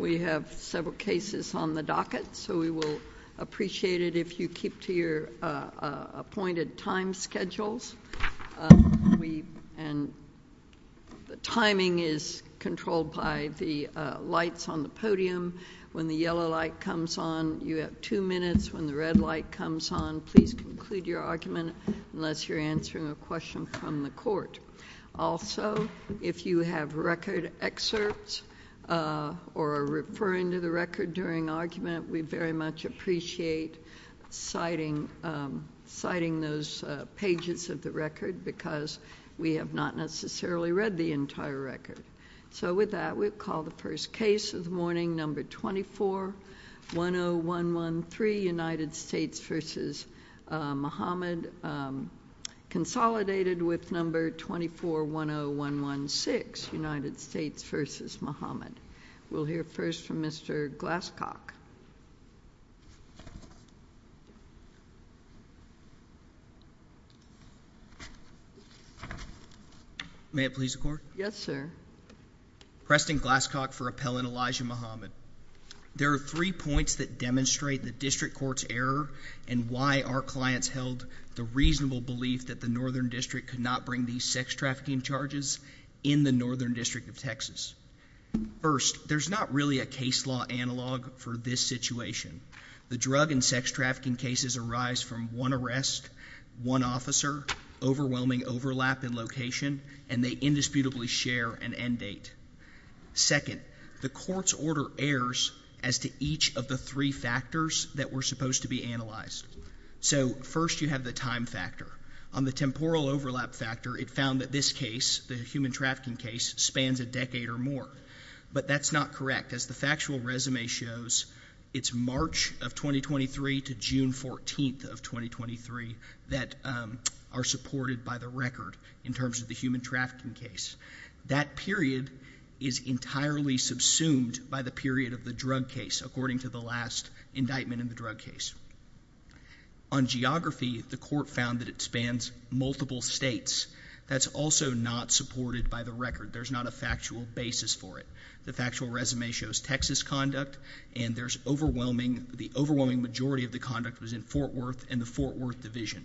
We have several cases on the docket, so we will appreciate it if you keep to your appointed time schedules. The timing is controlled by the lights on the podium. When the yellow light comes on, you have two minutes. When the red light comes on, please conclude your argument unless you're answering a question from the court. Also, if you have record excerpts or are referring to the record during argument, we very much appreciate citing those pages of the record, because we have not necessarily read the entire record. So with that, we'll call the first case of the morning, number 24-10113, United States v. Muhammad, consolidated with number 24-10116, United States v. Muhammad. We'll hear first from Mr. Glasscock. May it please the Court? Yes, sir. Preston Glasscock for Appellant Elijah Muhammad. There are three points that demonstrate the district court's error and why our clients held the reasonable belief that the Northern District could not bring these sex trafficking charges in the Northern District of Texas. First, there's not really a case law analog for this situation. The drug and sex trafficking cases arise from one arrest, one officer, overwhelming overlap in location, and they indisputably share an end date. Second, the court's order errs as to each of the three factors that were supposed to be analyzed. So, first, you have the time factor. On the temporal overlap factor, it found that this case, the human trafficking case, spans a decade or more. But that's not correct. As the factual resume shows, it's March of 2023 to June 14th of 2023 that are supported by the record in terms of the human trafficking case. That period is entirely subsumed by the period of the drug case, according to the last indictment in the drug case. On geography, the court found that it spans multiple states. That's also not supported by the record. There's not a factual basis for it. The factual resume shows Texas conduct, and the overwhelming majority of the conduct was in Fort Worth and the Fort Worth Division.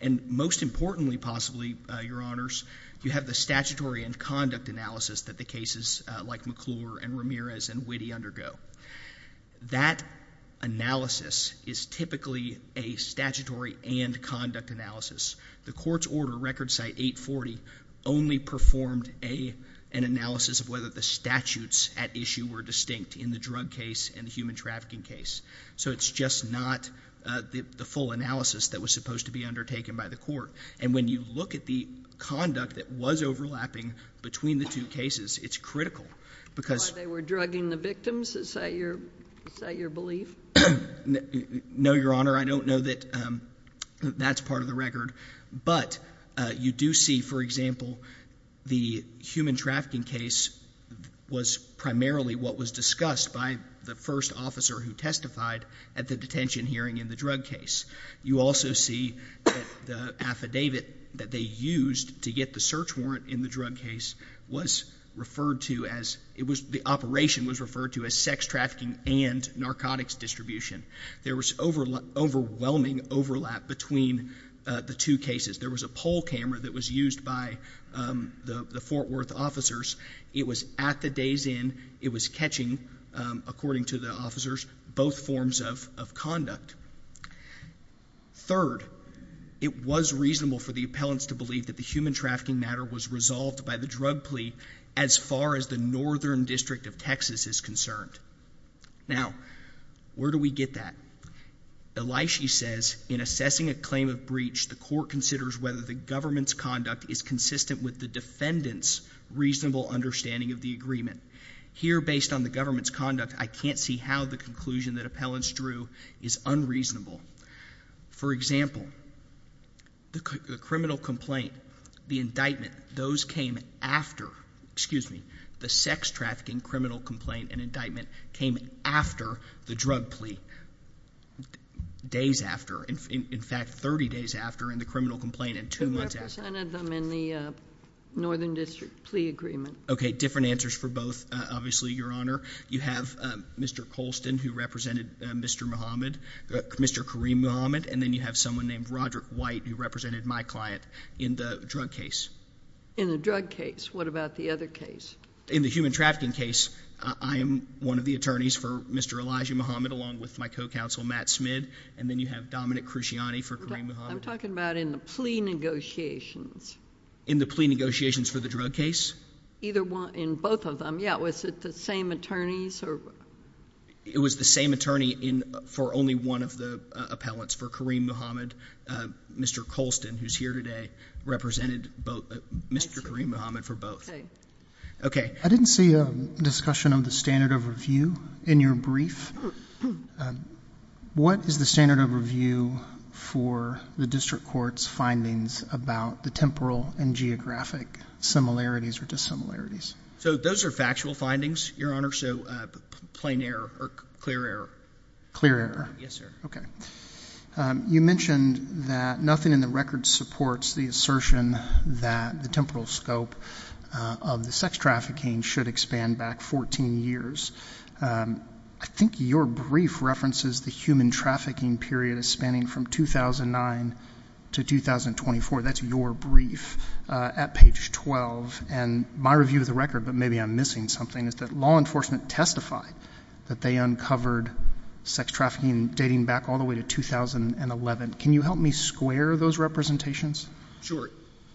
And, most importantly, possibly, Your Honors, you have the statutory and conduct analysis that the cases like McClure and Ramirez and Witte undergo. That analysis is typically a statutory and conduct analysis. The court's order, Record Cite 840, only performed an analysis of whether the statutes at issue were distinct in the drug case and the human trafficking case. So it's just not the full analysis that was supposed to be undertaken by the court. And when you look at the conduct that was overlapping between the two cases, it's critical because- Why, they were drugging the victims, is that your belief? No, Your Honor, I don't know that that's part of the record. But you do see, for example, the human trafficking case was primarily what was discussed by the first officer who testified at the detention hearing in the drug case. You also see that the affidavit that they used to get the search warrant in the drug case was referred to as- the operation was referred to as sex trafficking and narcotics distribution. There was overwhelming overlap between the two cases. There was a poll camera that was used by the Fort Worth officers. It was at the day's end. It was catching, according to the officers, both forms of conduct. Third, it was reasonable for the appellants to believe that the human trafficking matter was resolved by the drug plea as far as the Northern District of Texas is concerned. Now, where do we get that? Elishi says, in assessing a claim of breach, the court considers whether the government's conduct is consistent with the defendant's reasonable understanding of the agreement. Here based on the government's conduct, I can't see how the conclusion that appellants drew is unreasonable. For example, the criminal complaint, the indictment, those came after- excuse me- the sex trafficking criminal complaint and indictment came after the drug plea. Days after. In fact, 30 days after in the criminal complaint and two months after. Who represented them in the Northern District plea agreement? Okay, different answers for both, obviously, Your Honor. You have Mr. Colston who represented Mr. Mohammed, Mr. Kareem Mohammed, and then you have someone named Roderick White who represented my client in the drug case. In the drug case. What about the other case? In the human trafficking case, I am one of the attorneys for Mr. Elijah Mohammed along with my co-counsel, Matt Smid. And then you have Dominic Cruciani for Kareem Mohammed. I'm talking about in the plea negotiations. In the plea negotiations for the drug case? Either one- in both of them, yeah. Was it the same attorneys or- It was the same attorney in- for only one of the appellants for Kareem Mohammed. Mr. Colston, who's here today, represented both- Mr. Kareem Mohammed for both. Okay. I didn't see a discussion of the standard of review in your brief. What is the standard of review for the district court's findings about the temporal and geographic similarities or dissimilarities? So those are factual findings, Your Honor, so plain error or clear error. Clear error. Yes, sir. Okay. You mentioned that nothing in the record supports the assertion that the temporal scope of the sex trafficking should expand back 14 years. I think your brief references the human trafficking period as spanning from 2009 to 2024. That's your brief at page 12. And my review of the record, but maybe I'm missing something, is that law enforcement testified that they uncovered sex trafficking dating back all the way to 2011. Can you help me square those representations? Sure.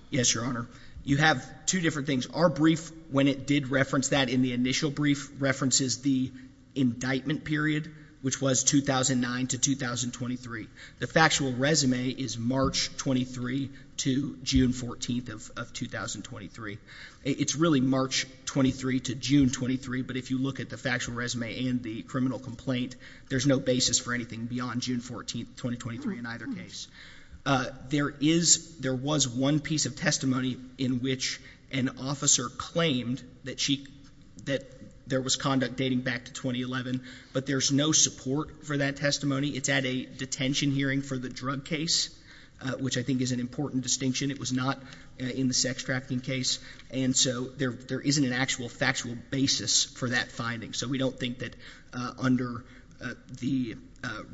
Yes, Your Honor. You have two different things. Our brief, when it did reference that in the initial brief, references the indictment period, which was 2009 to 2023. The factual resume is March 23 to June 14 of 2023. It's really March 23 to June 23, but if you look at the factual resume and the criminal complaint, there's no basis for anything beyond June 14, 2023 in either case. There is, there was one piece of testimony in which an officer claimed that she, that there was conduct dating back to 2011, but there's no support for that testimony. It's at a detention hearing for the drug case, which I think is an important distinction. It was not in the sex trafficking case. And so there isn't an actual factual basis for that finding. So we don't think that under the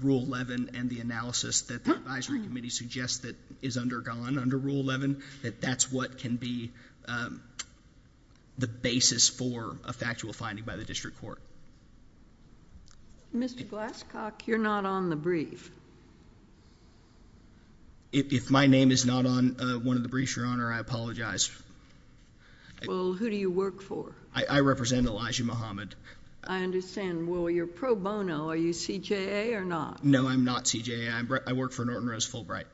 Rule 11 and the analysis that the Advisory Committee suggests that is undergone under Rule 11, that that's what can be the basis for a factual finding by the district court. Mr. Glasscock, you're not on the brief. If my name is not on one of the briefs, Your Honor, I apologize. Well, who do you work for? I represent Elijah Muhammad. I understand. Well, you're pro bono. Are you CJA or not? No, I'm not CJA. I work for Norton Rose Fulbright.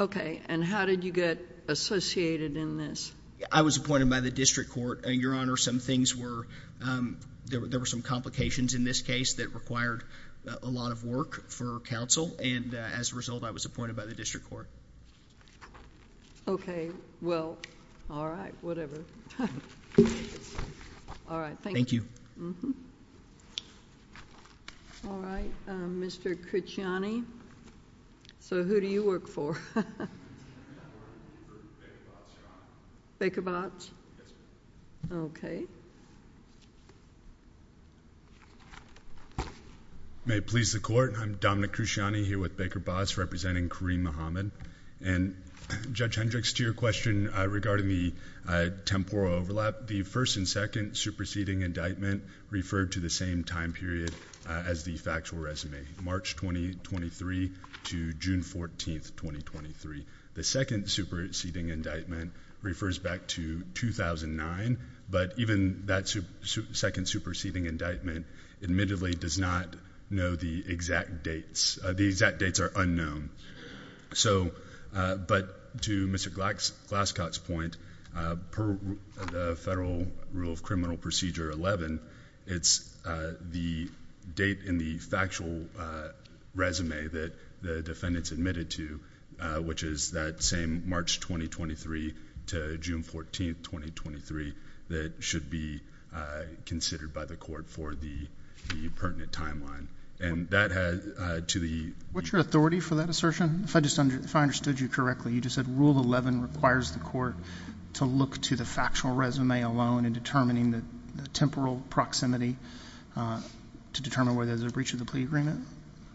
Okay. And how did you get associated in this? I was appointed by the district court. Your Honor, some things were, there were some complications in this case that required a lot of work for counsel, and as a result, I was appointed by the district court. Okay. Well, all right, whatever. All right. Thank you. All right. Mr. Cruciani, so who do you work for? I work for Baker Botts, Your Honor. Baker Botts? Yes, ma'am. Okay. May it please the Court, I'm Dominic Cruciani here with Baker Botts representing Kareem Muhammad. And Judge Hendricks, to your question regarding the temporal overlap, the first and second superseding indictment referred to the same time period as the factual resume, March 2023 to June 14th, 2023. The second superseding indictment refers back to 2009, but even that second superseding indictment admittedly does not know the exact dates. The exact dates are unknown. So, but to Mr. Glaskot's point, per the Federal Rule of Criminal Procedure 11, it's the date in the factual resume that the defendant's admitted to, which is that same March 2023 to June 14th, 2023, that should be considered by the Court for the pertinent timeline. And that has... What's your authority for that assertion, if I understood you correctly? You just said Rule 11 requires the Court to look to the factual resume alone in determining the temporal proximity to determine whether there's a breach of the plea agreement?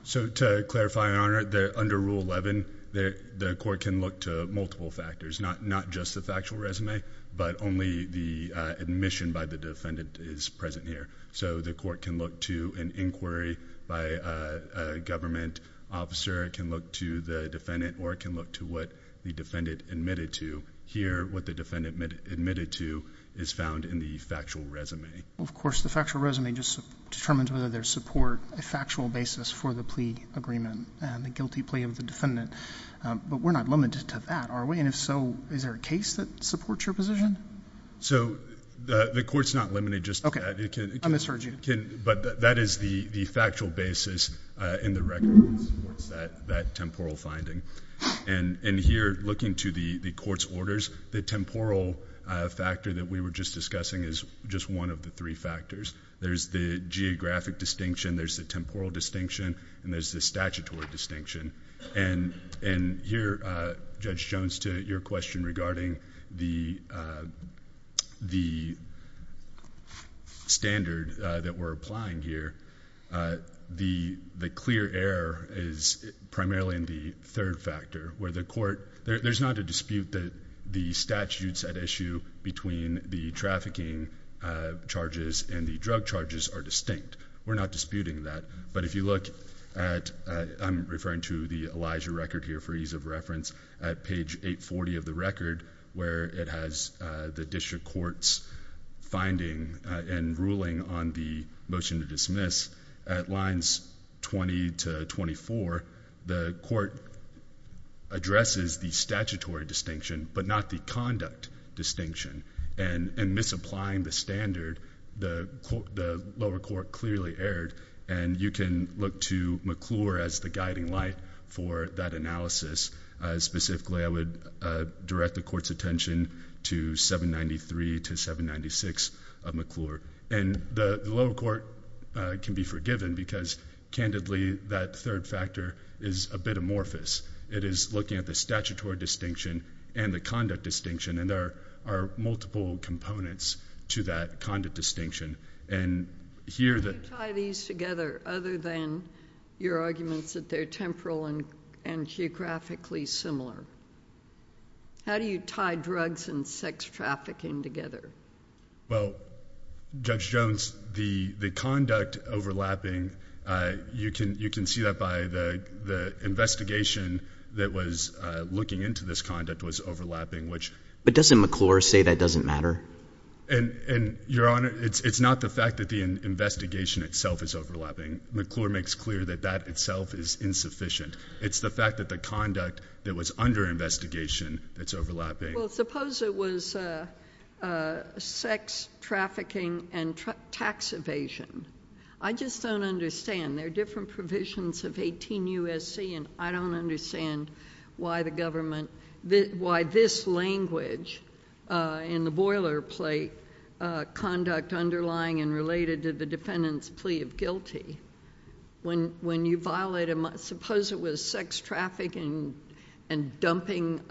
So to clarify, Your Honor, under Rule 11, the Court can look to multiple factors, not just the factual resume, but only the admission by the defendant is present here. So the Court can look to an inquiry by a government officer, it can look to the defendant, or it can look to what the defendant admitted to. Here, what the defendant admitted to is found in the factual resume. Well, of course, the factual resume just determines whether there's support, a factual basis for the plea agreement and the guilty plea of the defendant. But we're not limited to that, are we? And if so, is there a case that supports your position? So the Court's not limited just to that. I misheard you. But that is the factual basis in the record that supports that temporal finding. And here, looking to the Court's orders, the temporal factor that we were just discussing is just one of the three factors. There's the geographic distinction, there's the temporal distinction, and there's the statutory distinction. And here, Judge Jones, to your question regarding the standard that we're applying here, the clear error is primarily in the third factor, where the Court, there's not a dispute that the statutes at issue between the trafficking charges and the drug charges are distinct. We're not disputing that. But if you look at, I'm referring to the Elijah record here for ease of reference, at page 840 of the record, where it has the district court's finding and ruling on the motion to dismiss, at lines 20 to 24, the court addresses the statutory distinction, but not the conduct distinction. And misapplying the standard, the lower court clearly erred. And you can look to McClure as the guiding light for that analysis. Specifically, I would direct the Court's attention to 793 to 796 of McClure. And the lower court can be forgiven because, candidly, that third factor is a bit amorphous. It is looking at the statutory distinction and the conduct distinction, and there are multiple components to that conduct distinction. And here the... How do you tie these together other than your arguments that they're temporal and geographically similar? How do you tie drugs and sex trafficking together? Well, Judge Jones, the conduct overlapping, you can see that by the investigation that was looking into this conduct was overlapping, which... But doesn't McClure say that doesn't matter? And, Your Honor, it's not the fact that the investigation itself is overlapping. McClure makes clear that that itself is insufficient. It's the fact that the conduct that was under investigation that's overlapping. Well, suppose it was sex trafficking and tax evasion. I just don't understand. There are different provisions of 18 U.S.C., and I don't understand why the government... Why this language in the boilerplate, conduct underlying and related to the defendant's plea of guilty, when you violate a... Suppose it was sex trafficking and dumping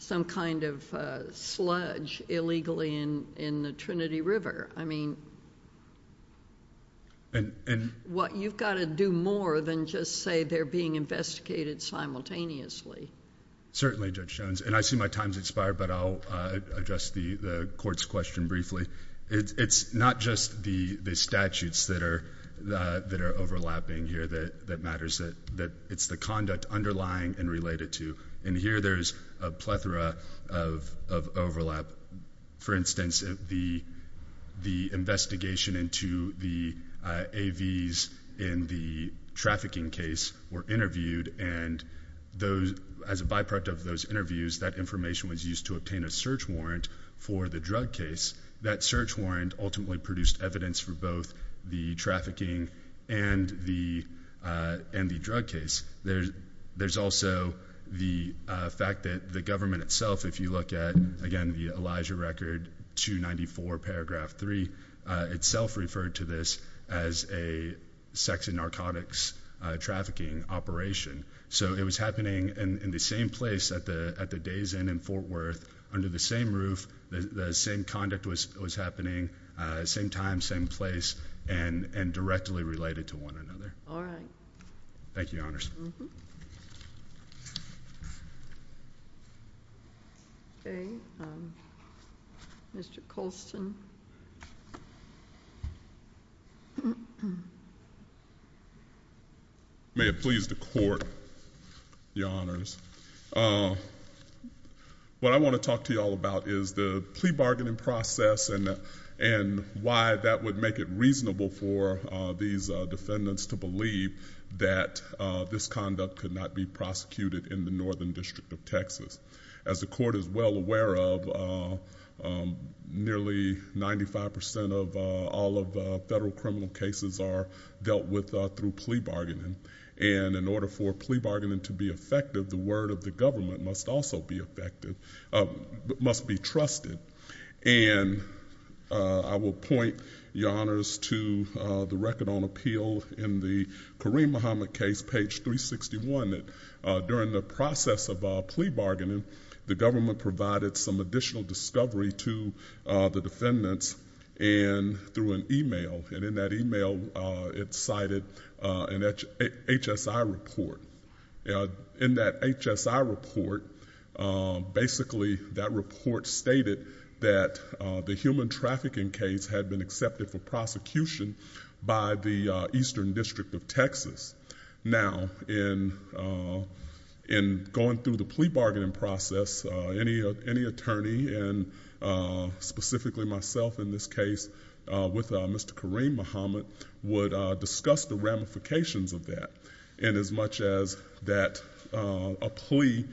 some kind of sludge illegally in the Trinity River. I mean, you've got to do more than just say they're being investigated simultaneously. Certainly, Judge Jones. And I see my time's expired, but I'll address the court's question briefly. It's not just the statutes that are overlapping here that matters, that it's the conduct underlying and related to. And here, there's a plethora of overlap. For instance, the investigation into the AVs in the trafficking case were interviewed, and as a byproduct of those interviews, that information was used to obtain a search warrant for the drug case. That search warrant ultimately produced evidence for both the trafficking and the drug case. There's also the fact that the government itself, if you look at, again, the Elijah Record 294, paragraph 3, itself referred to this as a sex and narcotics trafficking operation. So it was happening in the same place at the Days Inn in Fort Worth, under the same roof, the same conduct was happening, same time, same place, and directly related to one another. All right. Thank you, Your Honors. Okay. Mr. Colston. May it please the Court, Your Honors, what I want to talk to you all about is the plea bargaining process and why that would make it reasonable for these defendants to believe that this conduct could not be prosecuted in the Northern District of Texas. As the Court is well aware of, nearly ninety-five percent of all of the federal criminal cases are dealt with through plea bargaining, and in order for plea bargaining to be effective, the word of the government must also be effective, must be trusted. And I will point, Your Honors, to the record on appeal in the Kareem Muhammad case, page 361, that during the process of plea bargaining, the government provided some additional discovery to the defendants through an email, and in that email, it cited an HSI report. In that HSI report, basically, that report stated that the human trafficking case had been accepted for prosecution by the Eastern District of Texas. Now, in going through the plea bargaining process, any attorney, and specifically myself in this case, with Mr. Kareem Muhammad, would discuss the ramifications of that, inasmuch as that a plea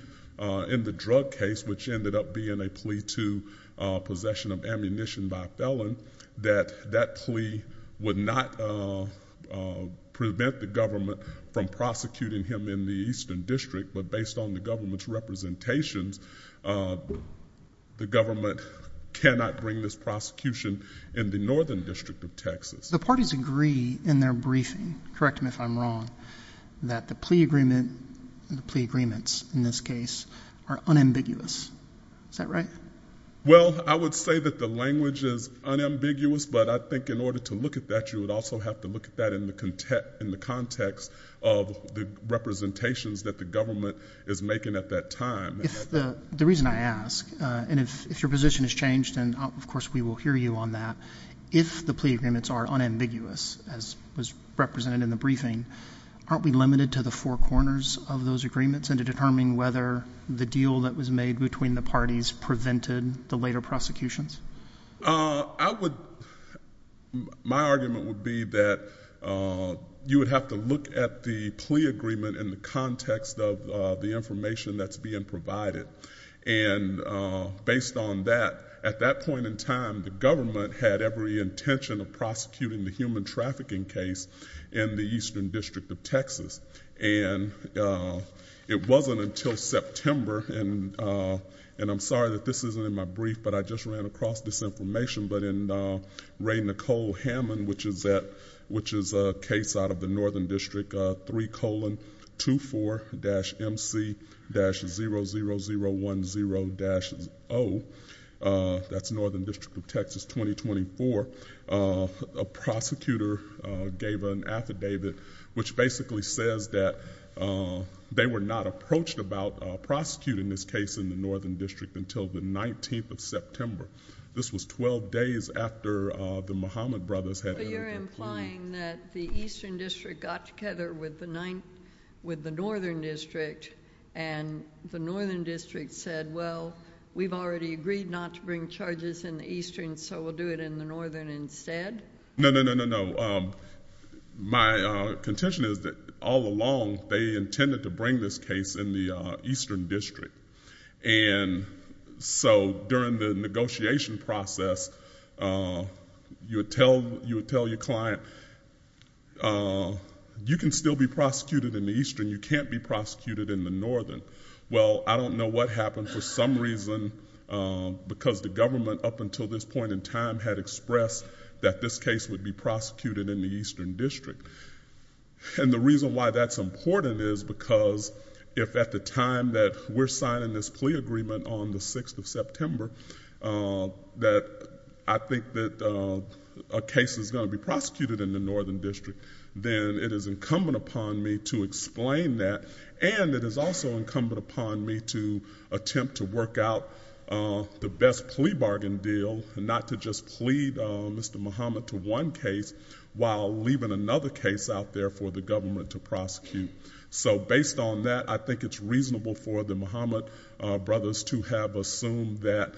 in the drug case, which ended up being a plea to possession of ammunition by a felon, that that plea would not prevent the government from prosecuting him in the Eastern District, but based on the government's representations, the government cannot bring this prosecution in the Northern District of Texas. The parties agree in their briefing, correct me if I'm wrong, that the plea agreement, and the plea agreements in this case, are unambiguous, is that right? Well, I would say that the language is unambiguous, but I think in order to look at that, you would also have to look at that in the context of the representations that the government is making at that time. The reason I ask, and if your position has changed, and of course, we will hear you on that, if the plea agreements are unambiguous, as was represented in the briefing, aren't we limited to the four corners of those agreements, and to determine whether the deal that was made between the parties prevented the later prosecutions? My argument would be that you would have to look at the plea agreement in the context of the information that's being provided, and based on that, at that point in time, the government had every intention of prosecuting the human trafficking case in the Eastern District of Texas. It wasn't until September, and I'm sorry that this isn't in my brief, but I just ran across this information, but in Ray Nicole Hammond, which is a case out of the Northern District, 3,24-MC-00010-0, that's Northern District of Texas 2024, a prosecutor gave an affidavit, which basically says that they were not approached about prosecuting this case in the Northern District until the 19th of September. This was twelve days after the Mahomet brothers had...... worked together with the Northern District, and the Northern District said, well, we've already agreed not to bring charges in the Eastern, so we'll do it in the Northern instead? No, no, no, no, no. My contention is that all along, they intended to bring this case in the Eastern District. During the negotiation process, you would tell your client, you can still bring charges in the Eastern, you can still be prosecuted in the Eastern, you can't be prosecuted in the Northern. Well, I don't know what happened for some reason, because the government up until this point in time had expressed that this case would be prosecuted in the Eastern District. The reason why that's important is because if at the time that we're signing this plea agreement on the 6th of September, that I think that a case is going to be prosecuted in the Northern District, then it is incumbent upon me to explain that, and it is also incumbent upon me to attempt to work out the best plea bargain deal, not to just plead Mr. Mahomet to one case while leaving another case out there for the government to prosecute. Based on that, I think it's reasonable for the Mahomet brothers to have assumed that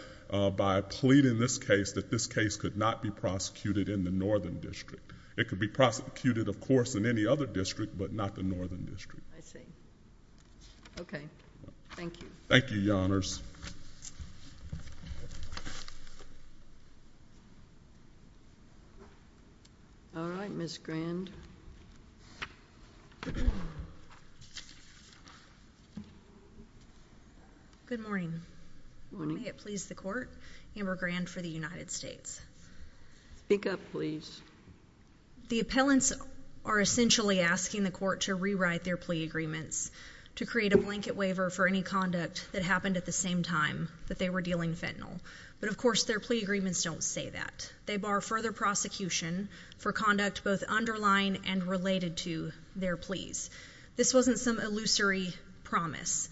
by pleading this case, that this case could not be prosecuted in the Northern District. It could be prosecuted, of course, in any other district, but not the Northern District. Okay. Thank you. Thank you, Your Honors. All right, Ms. Grand. Good morning. Good morning. May it please the Court, Amber Grand for the United States. Speak up, please. The appellants are essentially asking the Court to rewrite their plea agreements to create a blanket waiver for any conduct that happened at the same time that they were dealing fentanyl, but of course their plea agreements don't say that. They bar further prosecution for conduct both underlying and related to their pleas. This wasn't some illusory promise.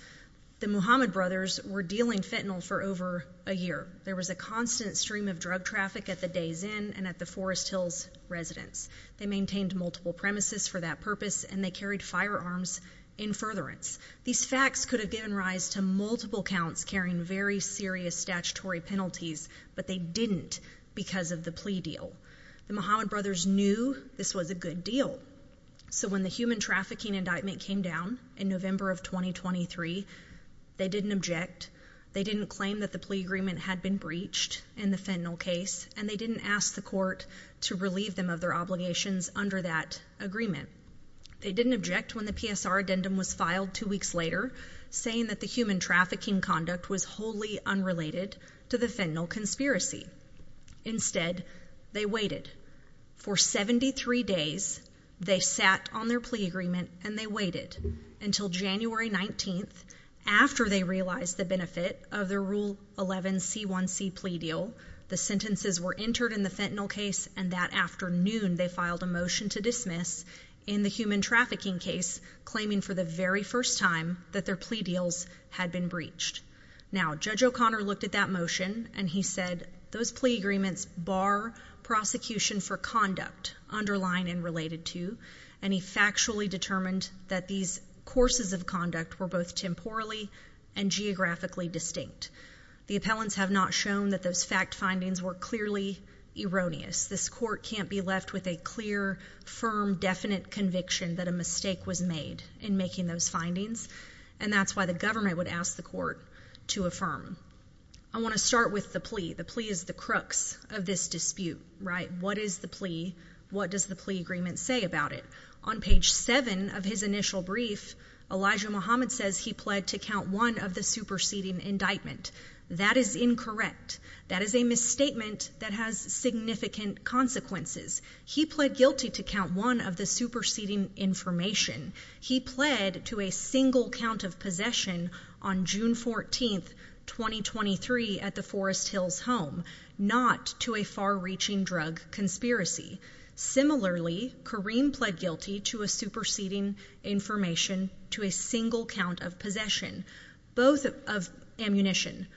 The Mahomet brothers were dealing fentanyl for over a year. There was a constant stream of drug traffic at the Days Inn and at the Forest Hills residence. They maintained multiple premises for that purpose and they carried firearms in furtherance. These facts could have given rise to multiple counts carrying very serious statutory penalties, but they didn't because of the plea deal. The Mahomet brothers knew this was a good deal. So when the human trafficking indictment came down in November of 2023, they didn't object. They didn't claim that the plea agreement had been breached in the fentanyl case and they didn't ask the Court to relieve them of their obligations under that agreement. They didn't object when the PSR addendum was filed two weeks later saying that the human trafficking conduct was wholly unrelated to the fentanyl conspiracy. Instead, they waited. For 73 days, they sat on their plea agreement and they waited until January 19th after they realized the benefit of the rule 11C1C plea deal. The sentences were entered in the fentanyl case and that afternoon they filed a motion to dismiss in the human trafficking case, claiming for the very first time that their plea deals had been breached. Now, Judge O'Connor looked at that motion and he said, those plea agreements bar prosecution for conduct underlying and related to. And he factually determined that these courses of conduct were both temporally and geographically distinct. The appellants have not shown that those fact findings were clearly erroneous. This court can't be left with a clear, firm, definite conviction that a mistake was made in making those findings. And that's why the government would ask the court to affirm. I wanna start with the plea. The plea is the crux of this dispute, right? What is the plea? What does the plea agreement say about it? On page seven of his initial brief, Elijah Muhammad says he pled to count one of the superseding indictment. That is incorrect. That is a misstatement that has significant consequences. He pled guilty to count one of the superseding information. He pled to a single count of possession on June 14th, 2023 at the Forest Hills home, not to a far reaching drug conspiracy. Similarly, Kareem pled guilty to a superseding information to a single count of possession, both of ammunition.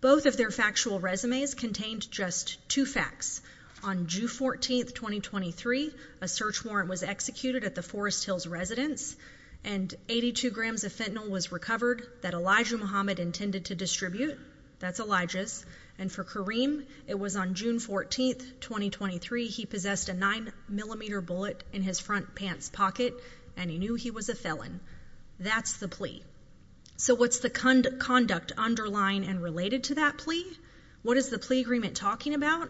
Both of their factual resumes contained just two facts. On June 14th, 2023, a search warrant was executed at the Forest Hills residence. And 82 grams of fentanyl was recovered that Elijah Muhammad intended to distribute. That's Elijah's. And for Kareem, it was on June 14th, 2023. He possessed a nine millimeter bullet in his front pants pocket, and he knew he was a felon. That's the plea. So what's the conduct underlying and related to that plea? What is the plea agreement talking about?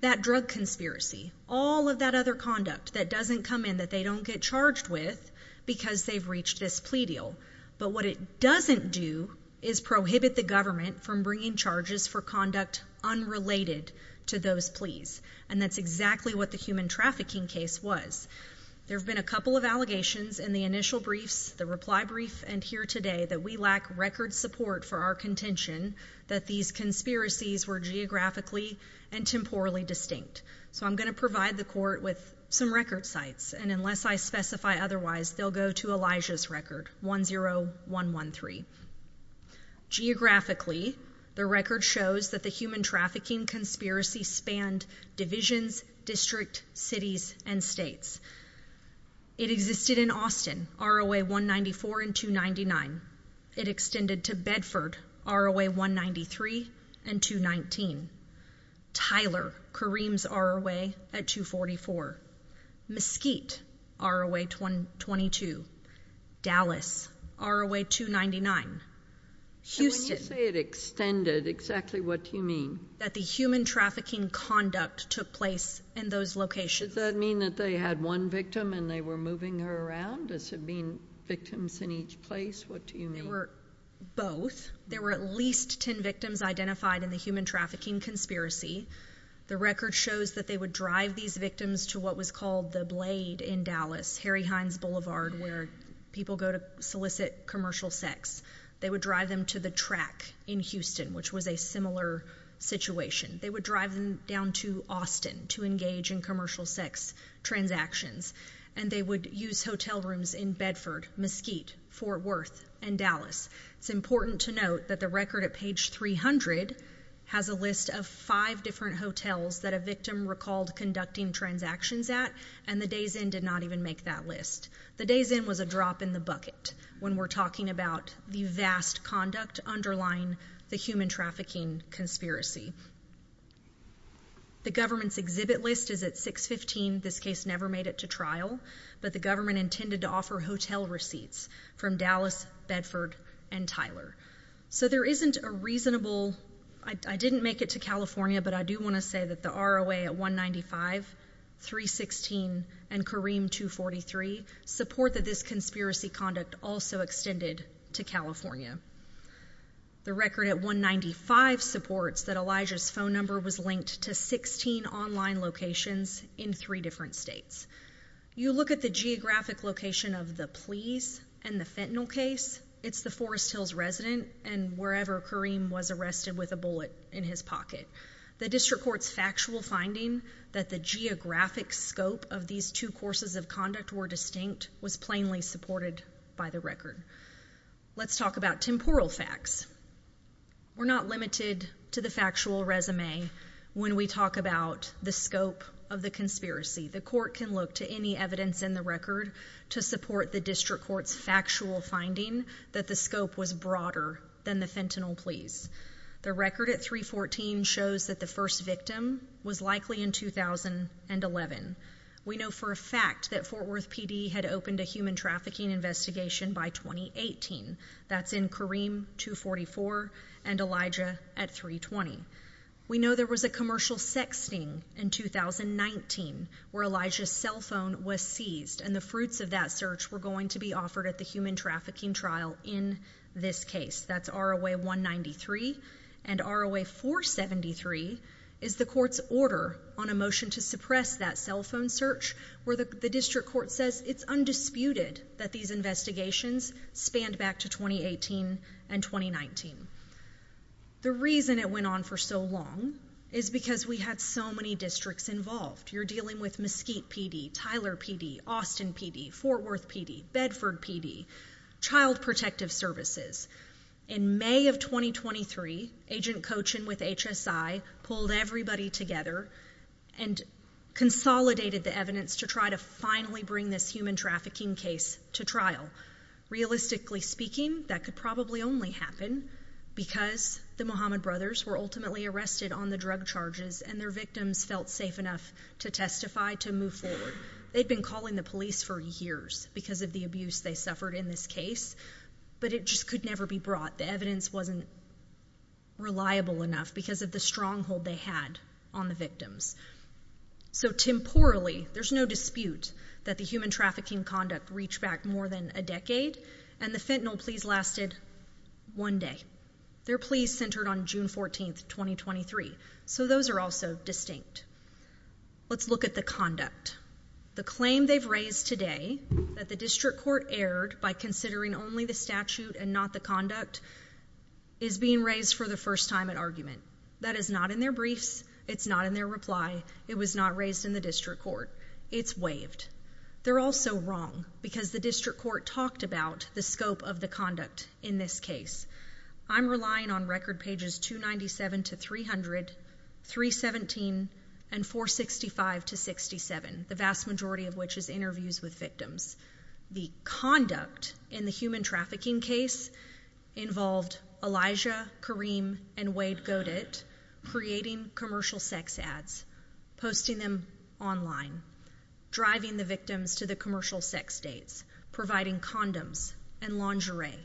That drug conspiracy, all of that other conduct that doesn't come in, that they don't get charged with because they've reached this plea deal. But what it doesn't do is prohibit the government from bringing charges for conduct unrelated to those pleas. And that's exactly what the human trafficking case was. There have been a couple of allegations in the initial briefs, the reply brief, and here today that we lack record support for our contention. That these conspiracies were geographically and temporally distinct. So I'm gonna provide the court with some record sites, and unless I specify otherwise, they'll go to Elijah's record, 10113. Geographically, the record shows that the human trafficking conspiracy spanned divisions, district, cities, and states. It existed in Austin, ROA 194 and 299. It extended to Bedford, ROA 193 and 219. Tyler, Kareem's ROA at 244. Mesquite, ROA 222. Dallas, ROA 299. When you say it extended, exactly what do you mean? That the human trafficking conduct took place in those locations. Does that mean that they had one victim and they were moving her around? Does it mean victims in each place? What do you mean? They were both. There were at least ten victims identified in the human trafficking conspiracy. The record shows that they would drive these victims to what was called the Blade in Dallas, Harry Hines Boulevard, where people go to solicit commercial sex. They would drive them to the track in Houston, which was a similar situation. They would drive them down to Austin to engage in commercial sex transactions. And they would use hotel rooms in Bedford, Mesquite, Fort Worth, and Dallas. It's important to note that the record at page 300 has a list of five different hotels that a victim recalled conducting transactions at, and the days in did not even make that list. The days in was a drop in the bucket when we're talking about the vast conduct underlying the human trafficking conspiracy. The government's exhibit list is at 615. This case never made it to trial, but the government intended to offer hotel receipts from Dallas, Bedford, and Tyler. So there isn't a reasonable, I didn't make it to California, but I do wanna say that the ROA at 195, 316, and Kareem 243 support that this conspiracy conduct also extended to California. The record at 195 supports that Elijah's phone number was linked to 16 online locations in three different states. You look at the geographic location of the Pleas and the Fentanyl case, it's the Forest Hills resident and wherever Kareem was arrested with a bullet in his pocket. The district court's factual finding that the geographic scope of these two courses of conduct were distinct was plainly supported by the record. Let's talk about temporal facts. We're not limited to the factual resume when we talk about the scope of the conspiracy. The court can look to any evidence in the record to support the district court's factual finding that the scope was broader than the Fentanyl Pleas. The record at 314 shows that the first victim was likely in 2011. We know for a fact that Fort Worth PD had opened a human trafficking investigation by 2018, that's in Kareem 244 and Elijah at 320. We know there was a commercial sexting in 2019 where Elijah's cell phone was seized and the fruits of that search were going to be offered at the human trafficking trial in this case, that's ROA 193. And ROA 473 is the court's order on a motion to suppress that cell phone search where the district court says it's undisputed that these investigations spanned back to 2018 and 2019. The reason it went on for so long is because we had so many districts involved. You're dealing with Mesquite PD, Tyler PD, Austin PD, Fort Worth PD, Bedford PD, Child Protective Services. In May of 2023, Agent Cochin with HSI pulled everybody together and consolidated the evidence to try to finally bring this human trafficking case to trial. Realistically speaking, that could probably only happen because the Mohammed brothers were ultimately arrested on the drug charges and their victims felt safe enough to testify to move forward. They'd been calling the police for years because of the abuse they suffered in this case. But it just could never be brought. The evidence wasn't reliable enough because of the stronghold they had on the victims. So temporally, there's no dispute that the human trafficking conduct reached back more than a decade, and the fentanyl pleas lasted one day. Their pleas centered on June 14th, 2023, so those are also distinct. Let's look at the conduct. The claim they've raised today that the district court erred by considering only the statute and not the conduct is being raised for the first time at argument. That is not in their briefs. It's not in their reply. It was not raised in the district court. It's waived. They're also wrong, because the district court talked about the scope of the conduct in this case. I'm relying on record pages 297 to 300, 317, and 465 to 67, the vast majority of which is interviews with victims. The conduct in the human trafficking case involved Elijah, Kareem, and Wade Godet creating commercial sex ads, posting them online, driving the victims to the commercial sex dates, providing condoms and lingerie,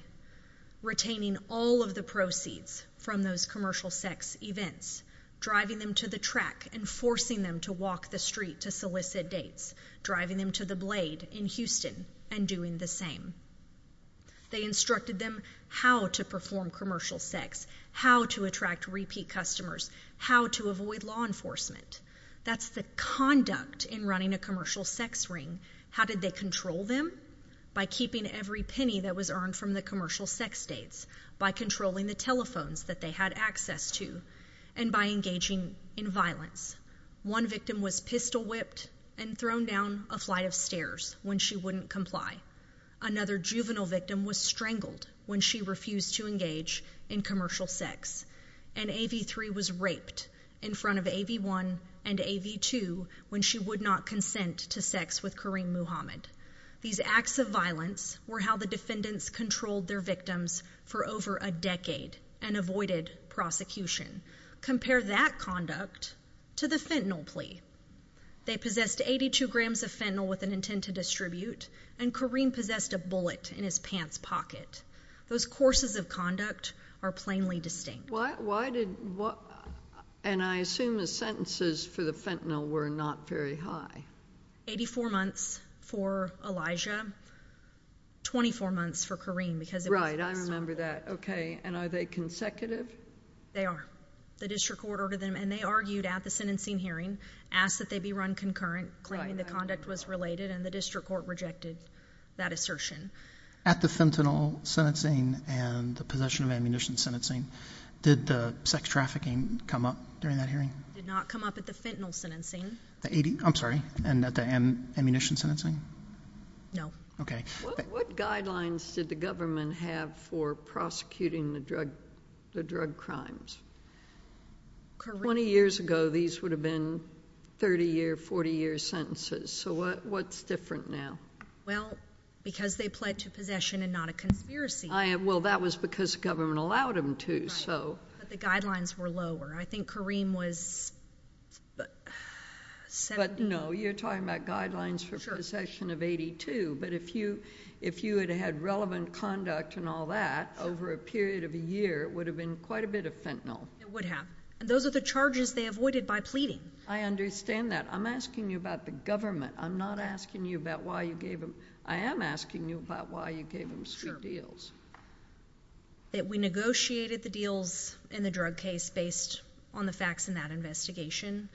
retaining all of the proceeds from those commercial sex events, driving them to the track, and forcing them to walk the street to solicit dates, driving them to the Blade in Houston, and doing the same. They instructed them how to perform commercial sex, how to attract repeat customers, how to avoid law enforcement. That's the conduct in running a commercial sex ring. How did they control them? By keeping every penny that was earned from the commercial sex dates, by controlling the telephones that they had access to, and by engaging in violence. One victim was pistol whipped and thrown down a flight of stairs when she wouldn't comply. Another juvenile victim was strangled when she refused to engage in commercial sex. And AV3 was raped in front of AV1 and AV2 when she would not consent to sex with Kareem Muhammad. These acts of violence were how the defendants controlled their victims for over a decade and avoided prosecution. Compare that conduct to the fentanyl plea. They possessed 82 grams of fentanyl with an intent to distribute, and Kareem possessed a bullet in his pants pocket. Those courses of conduct are plainly distinct. Why did, and I assume the sentences for the fentanyl were not very high. 84 months for Elijah, 24 months for Kareem because it was a pistol. Right, I remember that. Okay, and are they consecutive? They are. The district court ordered them, and they argued at the sentencing hearing, asked that they be run concurrent, claiming the conduct was related, and the district court rejected that assertion. At the fentanyl sentencing and the possession of ammunition sentencing, did the sex trafficking come up during that hearing? It did not come up at the fentanyl sentencing. The 80, I'm sorry, and at the ammunition sentencing? No. Okay. What guidelines did the government have for prosecuting the drug, the drug crimes? Correct. 20 years ago, these would have been 30 year, 40 year sentences. So what's different now? Well, because they pled to possession and not a conspiracy. Well, that was because the government allowed them to, so. But the guidelines were lower. I think Kareem was, but. But no, you're talking about guidelines for possession of 82. But if you had had relevant conduct and all that over a period of a year, it would have been quite a bit of fentanyl. It would have. Those are the charges they avoided by pleading. I understand that. I'm asking you about the government. I'm not asking you about why you gave them. I am asking you about why you gave them street deals. That we negotiated the deals in the drug case based on the facts in that investigation.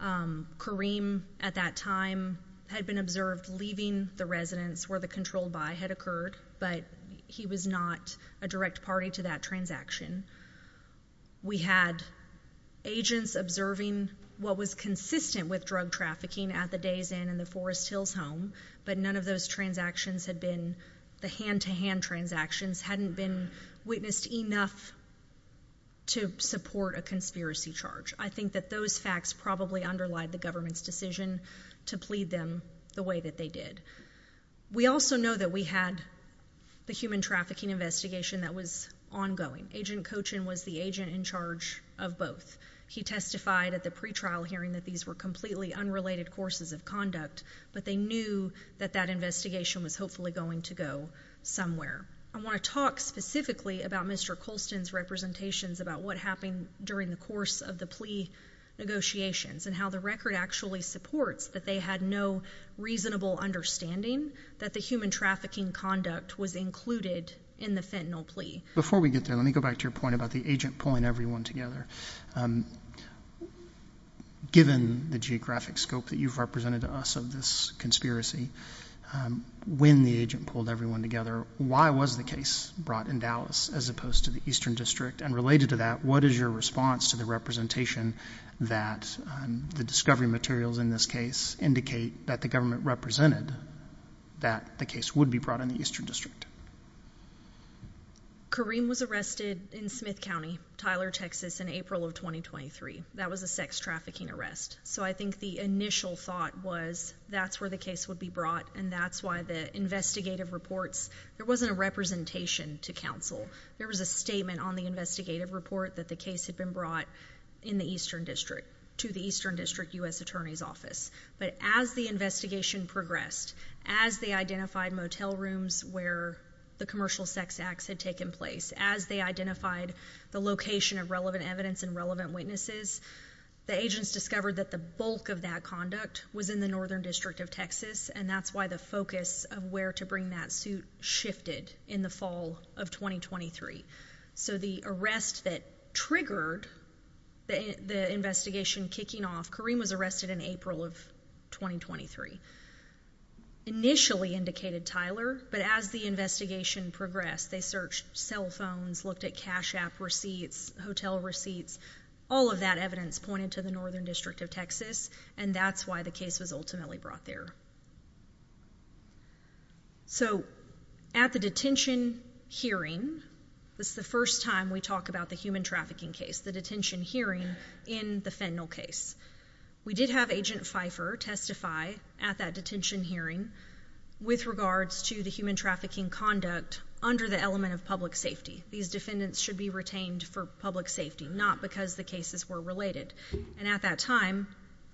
Kareem, at that time, had been observed leaving the residence where the control buy had occurred, but he was not a direct party to that transaction. We had agents observing what was consistent with drug trafficking at the Days Inn and the Forest Hills Home, but none of those transactions had been the hand-to-hand transactions, hadn't been witnessed enough to support a conspiracy charge. I think that those facts probably underlie the government's decision to plead them the way that they did. We also know that we had the human trafficking investigation that was ongoing. Agent Cochin was the agent in charge of both. He testified at the pre-trial hearing that these were completely unrelated courses of conduct, but they knew that that investigation was hopefully going to go somewhere. I wanna talk specifically about Mr. Colston's representations, about what happened during the course of the plea negotiations, and how the record actually supports that they had no reasonable understanding that the human trafficking conduct was included in the fentanyl plea. Before we get there, let me go back to your point about the agent pulling everyone together. Given the geographic scope that you've represented to us of this conspiracy, when the agent pulled everyone together, why was the case brought in Dallas, as opposed to the Eastern District? And related to that, what is your response to the representation that the discovery materials in this case indicate that the government represented that the case would be brought in the Eastern District? Kareem was arrested in Smith County, Tyler, Texas, in April of 2023. That was a sex trafficking arrest. So I think the initial thought was that's where the case would be brought, and that's why the investigative reports, there wasn't a representation to counsel. There was a statement on the investigative report that the case had been brought to the Eastern District US Attorney's Office. But as the investigation progressed, as they identified motel rooms where the commercial sex acts had taken place, as they identified the location of relevant evidence and relevant witnesses, the agents discovered that the bulk of that conduct was in the Northern District of Texas. And that's why the focus of where to bring that suit shifted in the fall of 2023. So the arrest that triggered the investigation kicking off, Kareem was arrested in April of 2023. Initially indicated Tyler, but as the investigation progressed, they searched cell phones, looked at cash app receipts, hotel receipts. All of that evidence pointed to the Northern District of Texas, and that's why the case was ultimately brought there. So at the detention hearing, this is the first time we talk about the human trafficking case, the detention hearing in the Fennell case. We did have Agent Pfeiffer testify at that detention hearing with regards to the human trafficking conduct under the element of public safety. These defendants should be retained for public safety, not because the cases were related. And at that time,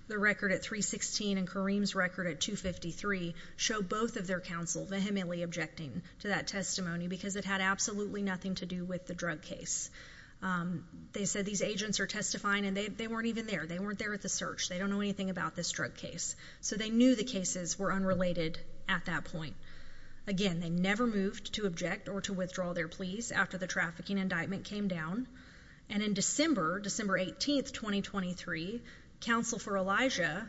the record at 316 and Kareem's record at 253 show both of their counsel vehemently objecting to that testimony, because it had absolutely nothing to do with the drug case. They said these agents are testifying and they weren't even there. They weren't there at the search. They don't know anything about this drug case. So they knew the cases were unrelated at that point. Again, they never moved to object or to withdraw their pleas after the trafficking indictment came down. And in December, December 18th, 2023, counsel for Elijah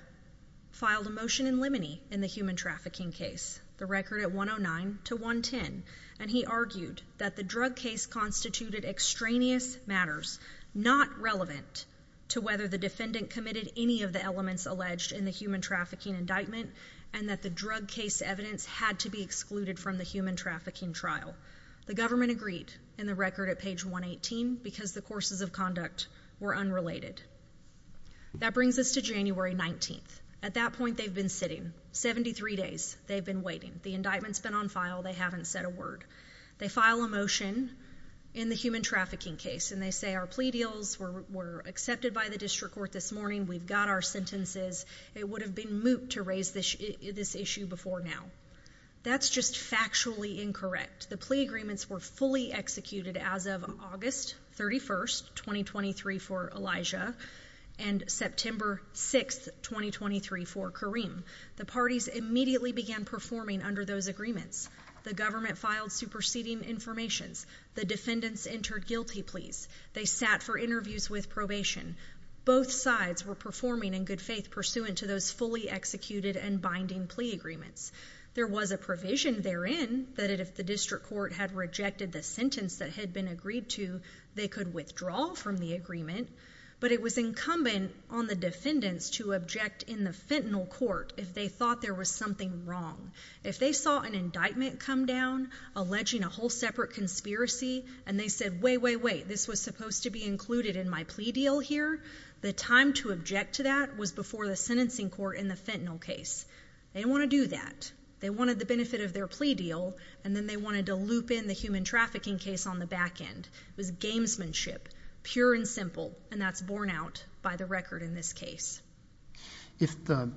filed a motion in limine in the human trafficking case. The record at 109 to 110, and he argued that the drug case constituted extraneous matters, not relevant to whether the defendant committed any of the elements alleged in the human trafficking indictment, and that the drug case evidence had to be excluded from the human trafficking trial. The government agreed in the record at page 118, because the courses of conduct were unrelated. That brings us to January 19th. At that point, they've been sitting, 73 days they've been waiting. The indictment's been on file, they haven't said a word. They file a motion in the human trafficking case, and they say our plea deals were accepted by the district court this morning. We've got our sentences. It would have been moot to raise this issue before now. That's just factually incorrect. The plea agreements were fully executed as of August 31st, 2023 for Elijah. And September 6th, 2023 for Kareem. The parties immediately began performing under those agreements. The government filed superseding informations. The defendants entered guilty pleas. They sat for interviews with probation. Both sides were performing in good faith pursuant to those fully executed and binding plea agreements. There was a provision therein that if the district court had rejected the sentence that had been agreed to, they could withdraw from the agreement. But it was incumbent on the defendants to object in the fentanyl court if they thought there was something wrong. If they saw an indictment come down alleging a whole separate conspiracy, and they said, wait, wait, wait, this was supposed to be included in my plea deal here, the time to object to that was before the sentencing court in the fentanyl case. They didn't wanna do that. They wanted the benefit of their plea deal, and then they wanted to loop in the human trafficking case on the back end. It was gamesmanship, pure and simple, and that's borne out by the record in this case. If the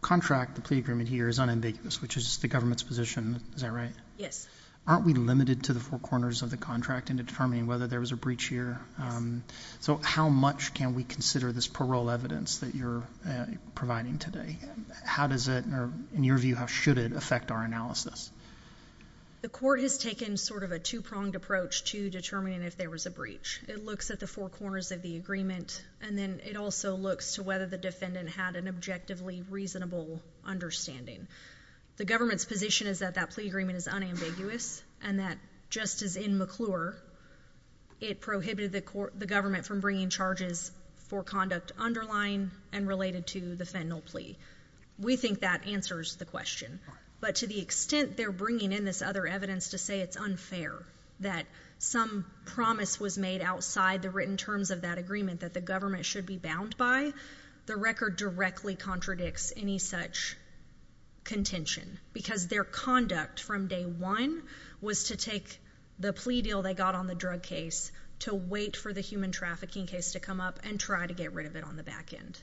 contract, the plea agreement here is unambiguous, which is the government's position, is that right? Yes. Aren't we limited to the four corners of the contract in determining whether there was a breach here? So how much can we consider this parole evidence that you're providing today? How does it, or in your view, how should it affect our analysis? The court has taken sort of a two-pronged approach to determining if there was a breach. It looks at the four corners of the agreement, and then it also looks to whether the defendant had an objectively reasonable understanding. The government's position is that that plea agreement is unambiguous, and that just as in McClure, it prohibited the government from bringing charges for conduct underlying and related to the fentanyl plea. We think that answers the question. But to the extent they're bringing in this other evidence to say it's unfair, that some promise was made outside the written terms of that agreement, that the government should be bound by, the record directly contradicts any such contention. Because their conduct from day one was to take the plea deal they got on the drug case, to wait for the human trafficking case to come up, and try to get rid of it on the back end.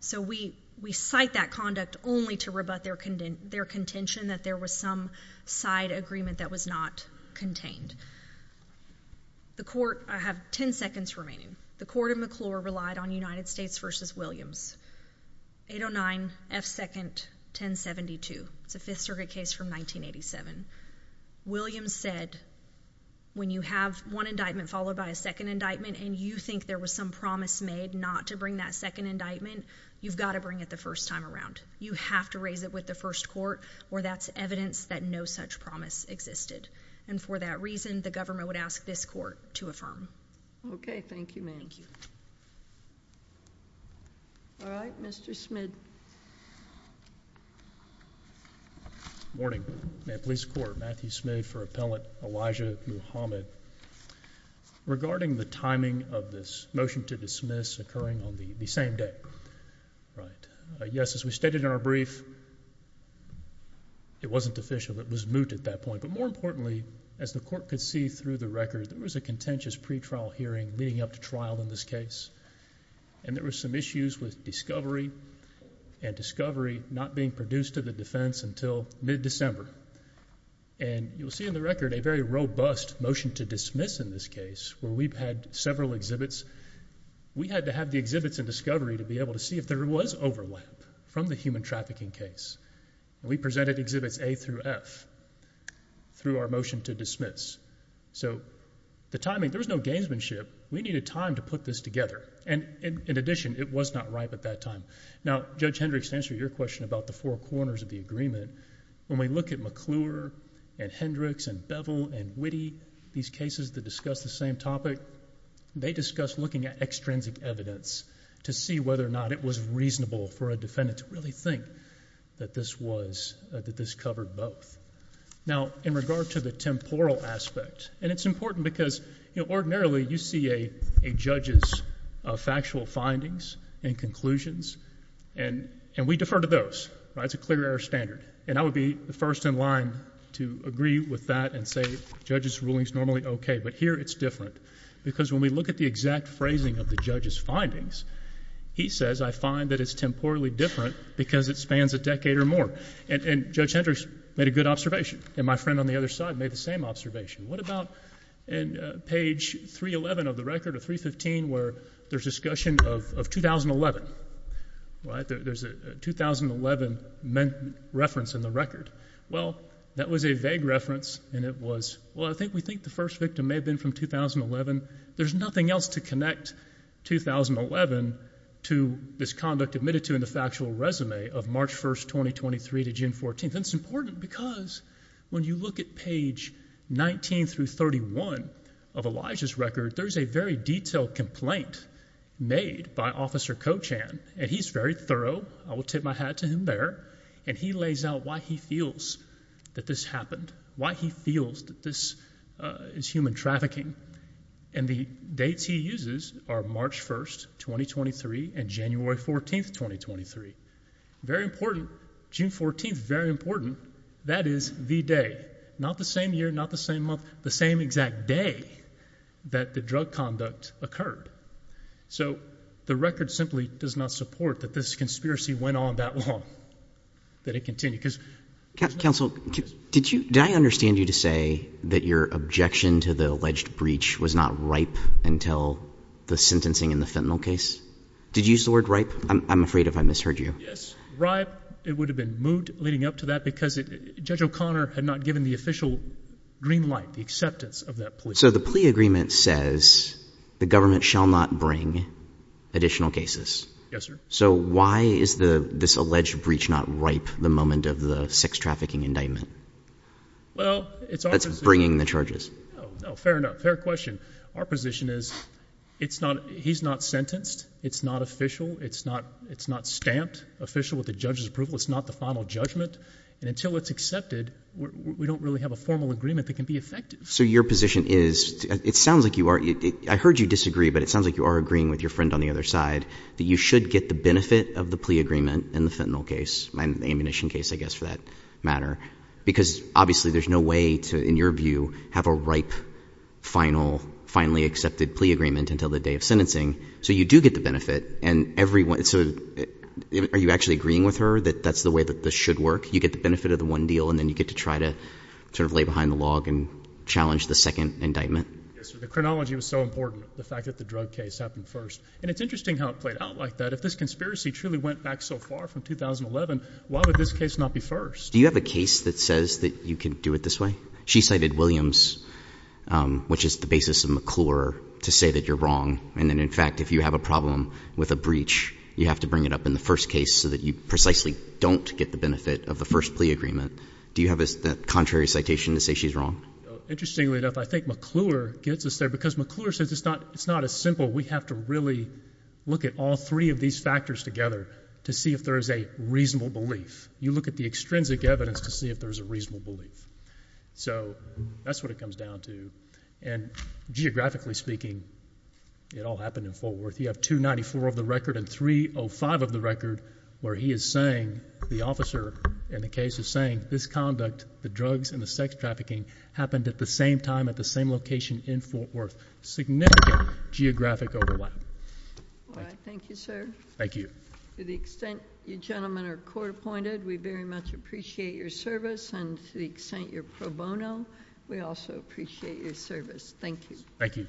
So we cite that conduct only to rebut their contention that there was some side agreement that was not contained. The court, I have ten seconds remaining. The court in McClure relied on United States versus Williams. 809 F2nd 1072, it's a fifth circuit case from 1987. Williams said, when you have one indictment followed by a second indictment, and you think there was some promise made not to bring that second indictment, you've gotta bring it the first time around. You have to raise it with the first court, or that's evidence that no such promise existed. And for that reason, the government would ask this court to affirm. Okay, thank you, ma'am. All right, Mr. Smid. Morning. May it please the court. Matthew Smid for Appellant Elijah Muhammad. Regarding the timing of this motion to dismiss occurring on the same day, right. Yes, as we stated in our brief, it wasn't official, but it was moot at that point. But more importantly, as the court could see through the record, there was a contentious pretrial hearing leading up to trial in this case. And there were some issues with discovery, and discovery not being produced to the defense until mid-December. And you'll see in the record a very robust motion to dismiss in this case, where we've had several exhibits. We had to have the exhibits in discovery to be able to see if there was overlap from the human trafficking case. We presented exhibits A through F through our motion to dismiss. So the timing, there was no gamesmanship. We needed time to put this together. And in addition, it was not ripe at that time. Now, Judge Hendricks, to answer your question about the four corners of the agreement, when we look at McClure and Hendricks and Bevel and Witte, these cases that discuss the same topic, they discuss looking at extrinsic evidence to see whether or not it was reasonable for a defendant to really think that this covered both. Now, in regard to the temporal aspect, and it's important because, ordinarily, you see a judge's factual findings and conclusions. And we defer to those, right, it's a clear air standard. And I would be the first in line to agree with that and say judge's ruling's normally okay, but here it's different. Because when we look at the exact phrasing of the judge's findings, he says I find that it's temporally different because it spans a decade or more. And Judge Hendricks made a good observation, and my friend on the other side made the same observation. What about page 311 of the record, or 315, where there's discussion of 2011, right? There's a 2011 reference in the record. Well, that was a vague reference, and it was, well, I think we think the first victim may have been from 2011. There's nothing else to connect 2011 to this conduct admitted to in factual resume of March 1st, 2023 to June 14th. And it's important because when you look at page 19 through 31 of Elijah's record, there's a very detailed complaint made by Officer Cochan. And he's very thorough, I will tip my hat to him there. And he lays out why he feels that this happened, why he feels that this is human trafficking. And the dates he uses are March 1st, 2023 and January 14th, 2023. Very important, June 14th, very important. That is the day, not the same year, not the same month, the same exact day that the drug conduct occurred. So the record simply does not support that this conspiracy went on that long. That it continued, cuz- Counsel, did I understand you to say that your objection to the alleged breach was not ripe until the sentencing in the fentanyl case? Did you use the word ripe? I'm afraid if I misheard you. Yes, ripe. It would have been moot leading up to that because Judge O'Connor had not given the official green light, the acceptance of that plea. So the plea agreement says the government shall not bring additional cases. Yes, sir. So why is this alleged breach not ripe the moment of the sex trafficking indictment? Well, it's- That's bringing the charges. Fair enough, fair question. Our position is, he's not sentenced, it's not official, it's not stamped official with the judge's approval, it's not the final judgment. And until it's accepted, we don't really have a formal agreement that can be effective. So your position is, it sounds like you are, I heard you disagree, but it sounds like you are agreeing with your friend on the other side, that you should get the benefit of the plea agreement in the fentanyl case. Ammunition case, I guess, for that matter. Because obviously, there's no way to, in your view, have a ripe, final, finally accepted plea agreement until the day of sentencing. So you do get the benefit, and everyone, so are you actually agreeing with her that that's the way that this should work? You get the benefit of the one deal, and then you get to try to sort of lay behind the log and challenge the second indictment. Yes, sir. The chronology was so important. The fact that the drug case happened first. And it's interesting how it played out like that. If this conspiracy truly went back so far from 2011, why would this case not be first? Do you have a case that says that you can do it this way? She cited Williams, which is the basis of McClure, to say that you're wrong. And then in fact, if you have a problem with a breach, you have to bring it up in the first case so that you precisely don't get the benefit of the first plea agreement. Do you have a contrary citation to say she's wrong? Interestingly enough, I think McClure gets us there, because McClure says it's not as simple. We have to really look at all three of these factors together to see if there is a reasonable belief. You look at the extrinsic evidence to see if there's a reasonable belief. So that's what it comes down to. And geographically speaking, it all happened in Fort Worth. You have 294 of the record and 305 of the record where he is saying, the officer in the case is saying, this conduct, the drugs and the sex trafficking, happened at the same time at the same location in Fort Worth. Significant geographic overlap. All right, thank you, sir. Thank you. To the extent you gentlemen are court appointed, we very much appreciate your service. And to the extent you're pro bono, we also appreciate your service. Thank you. Thank you.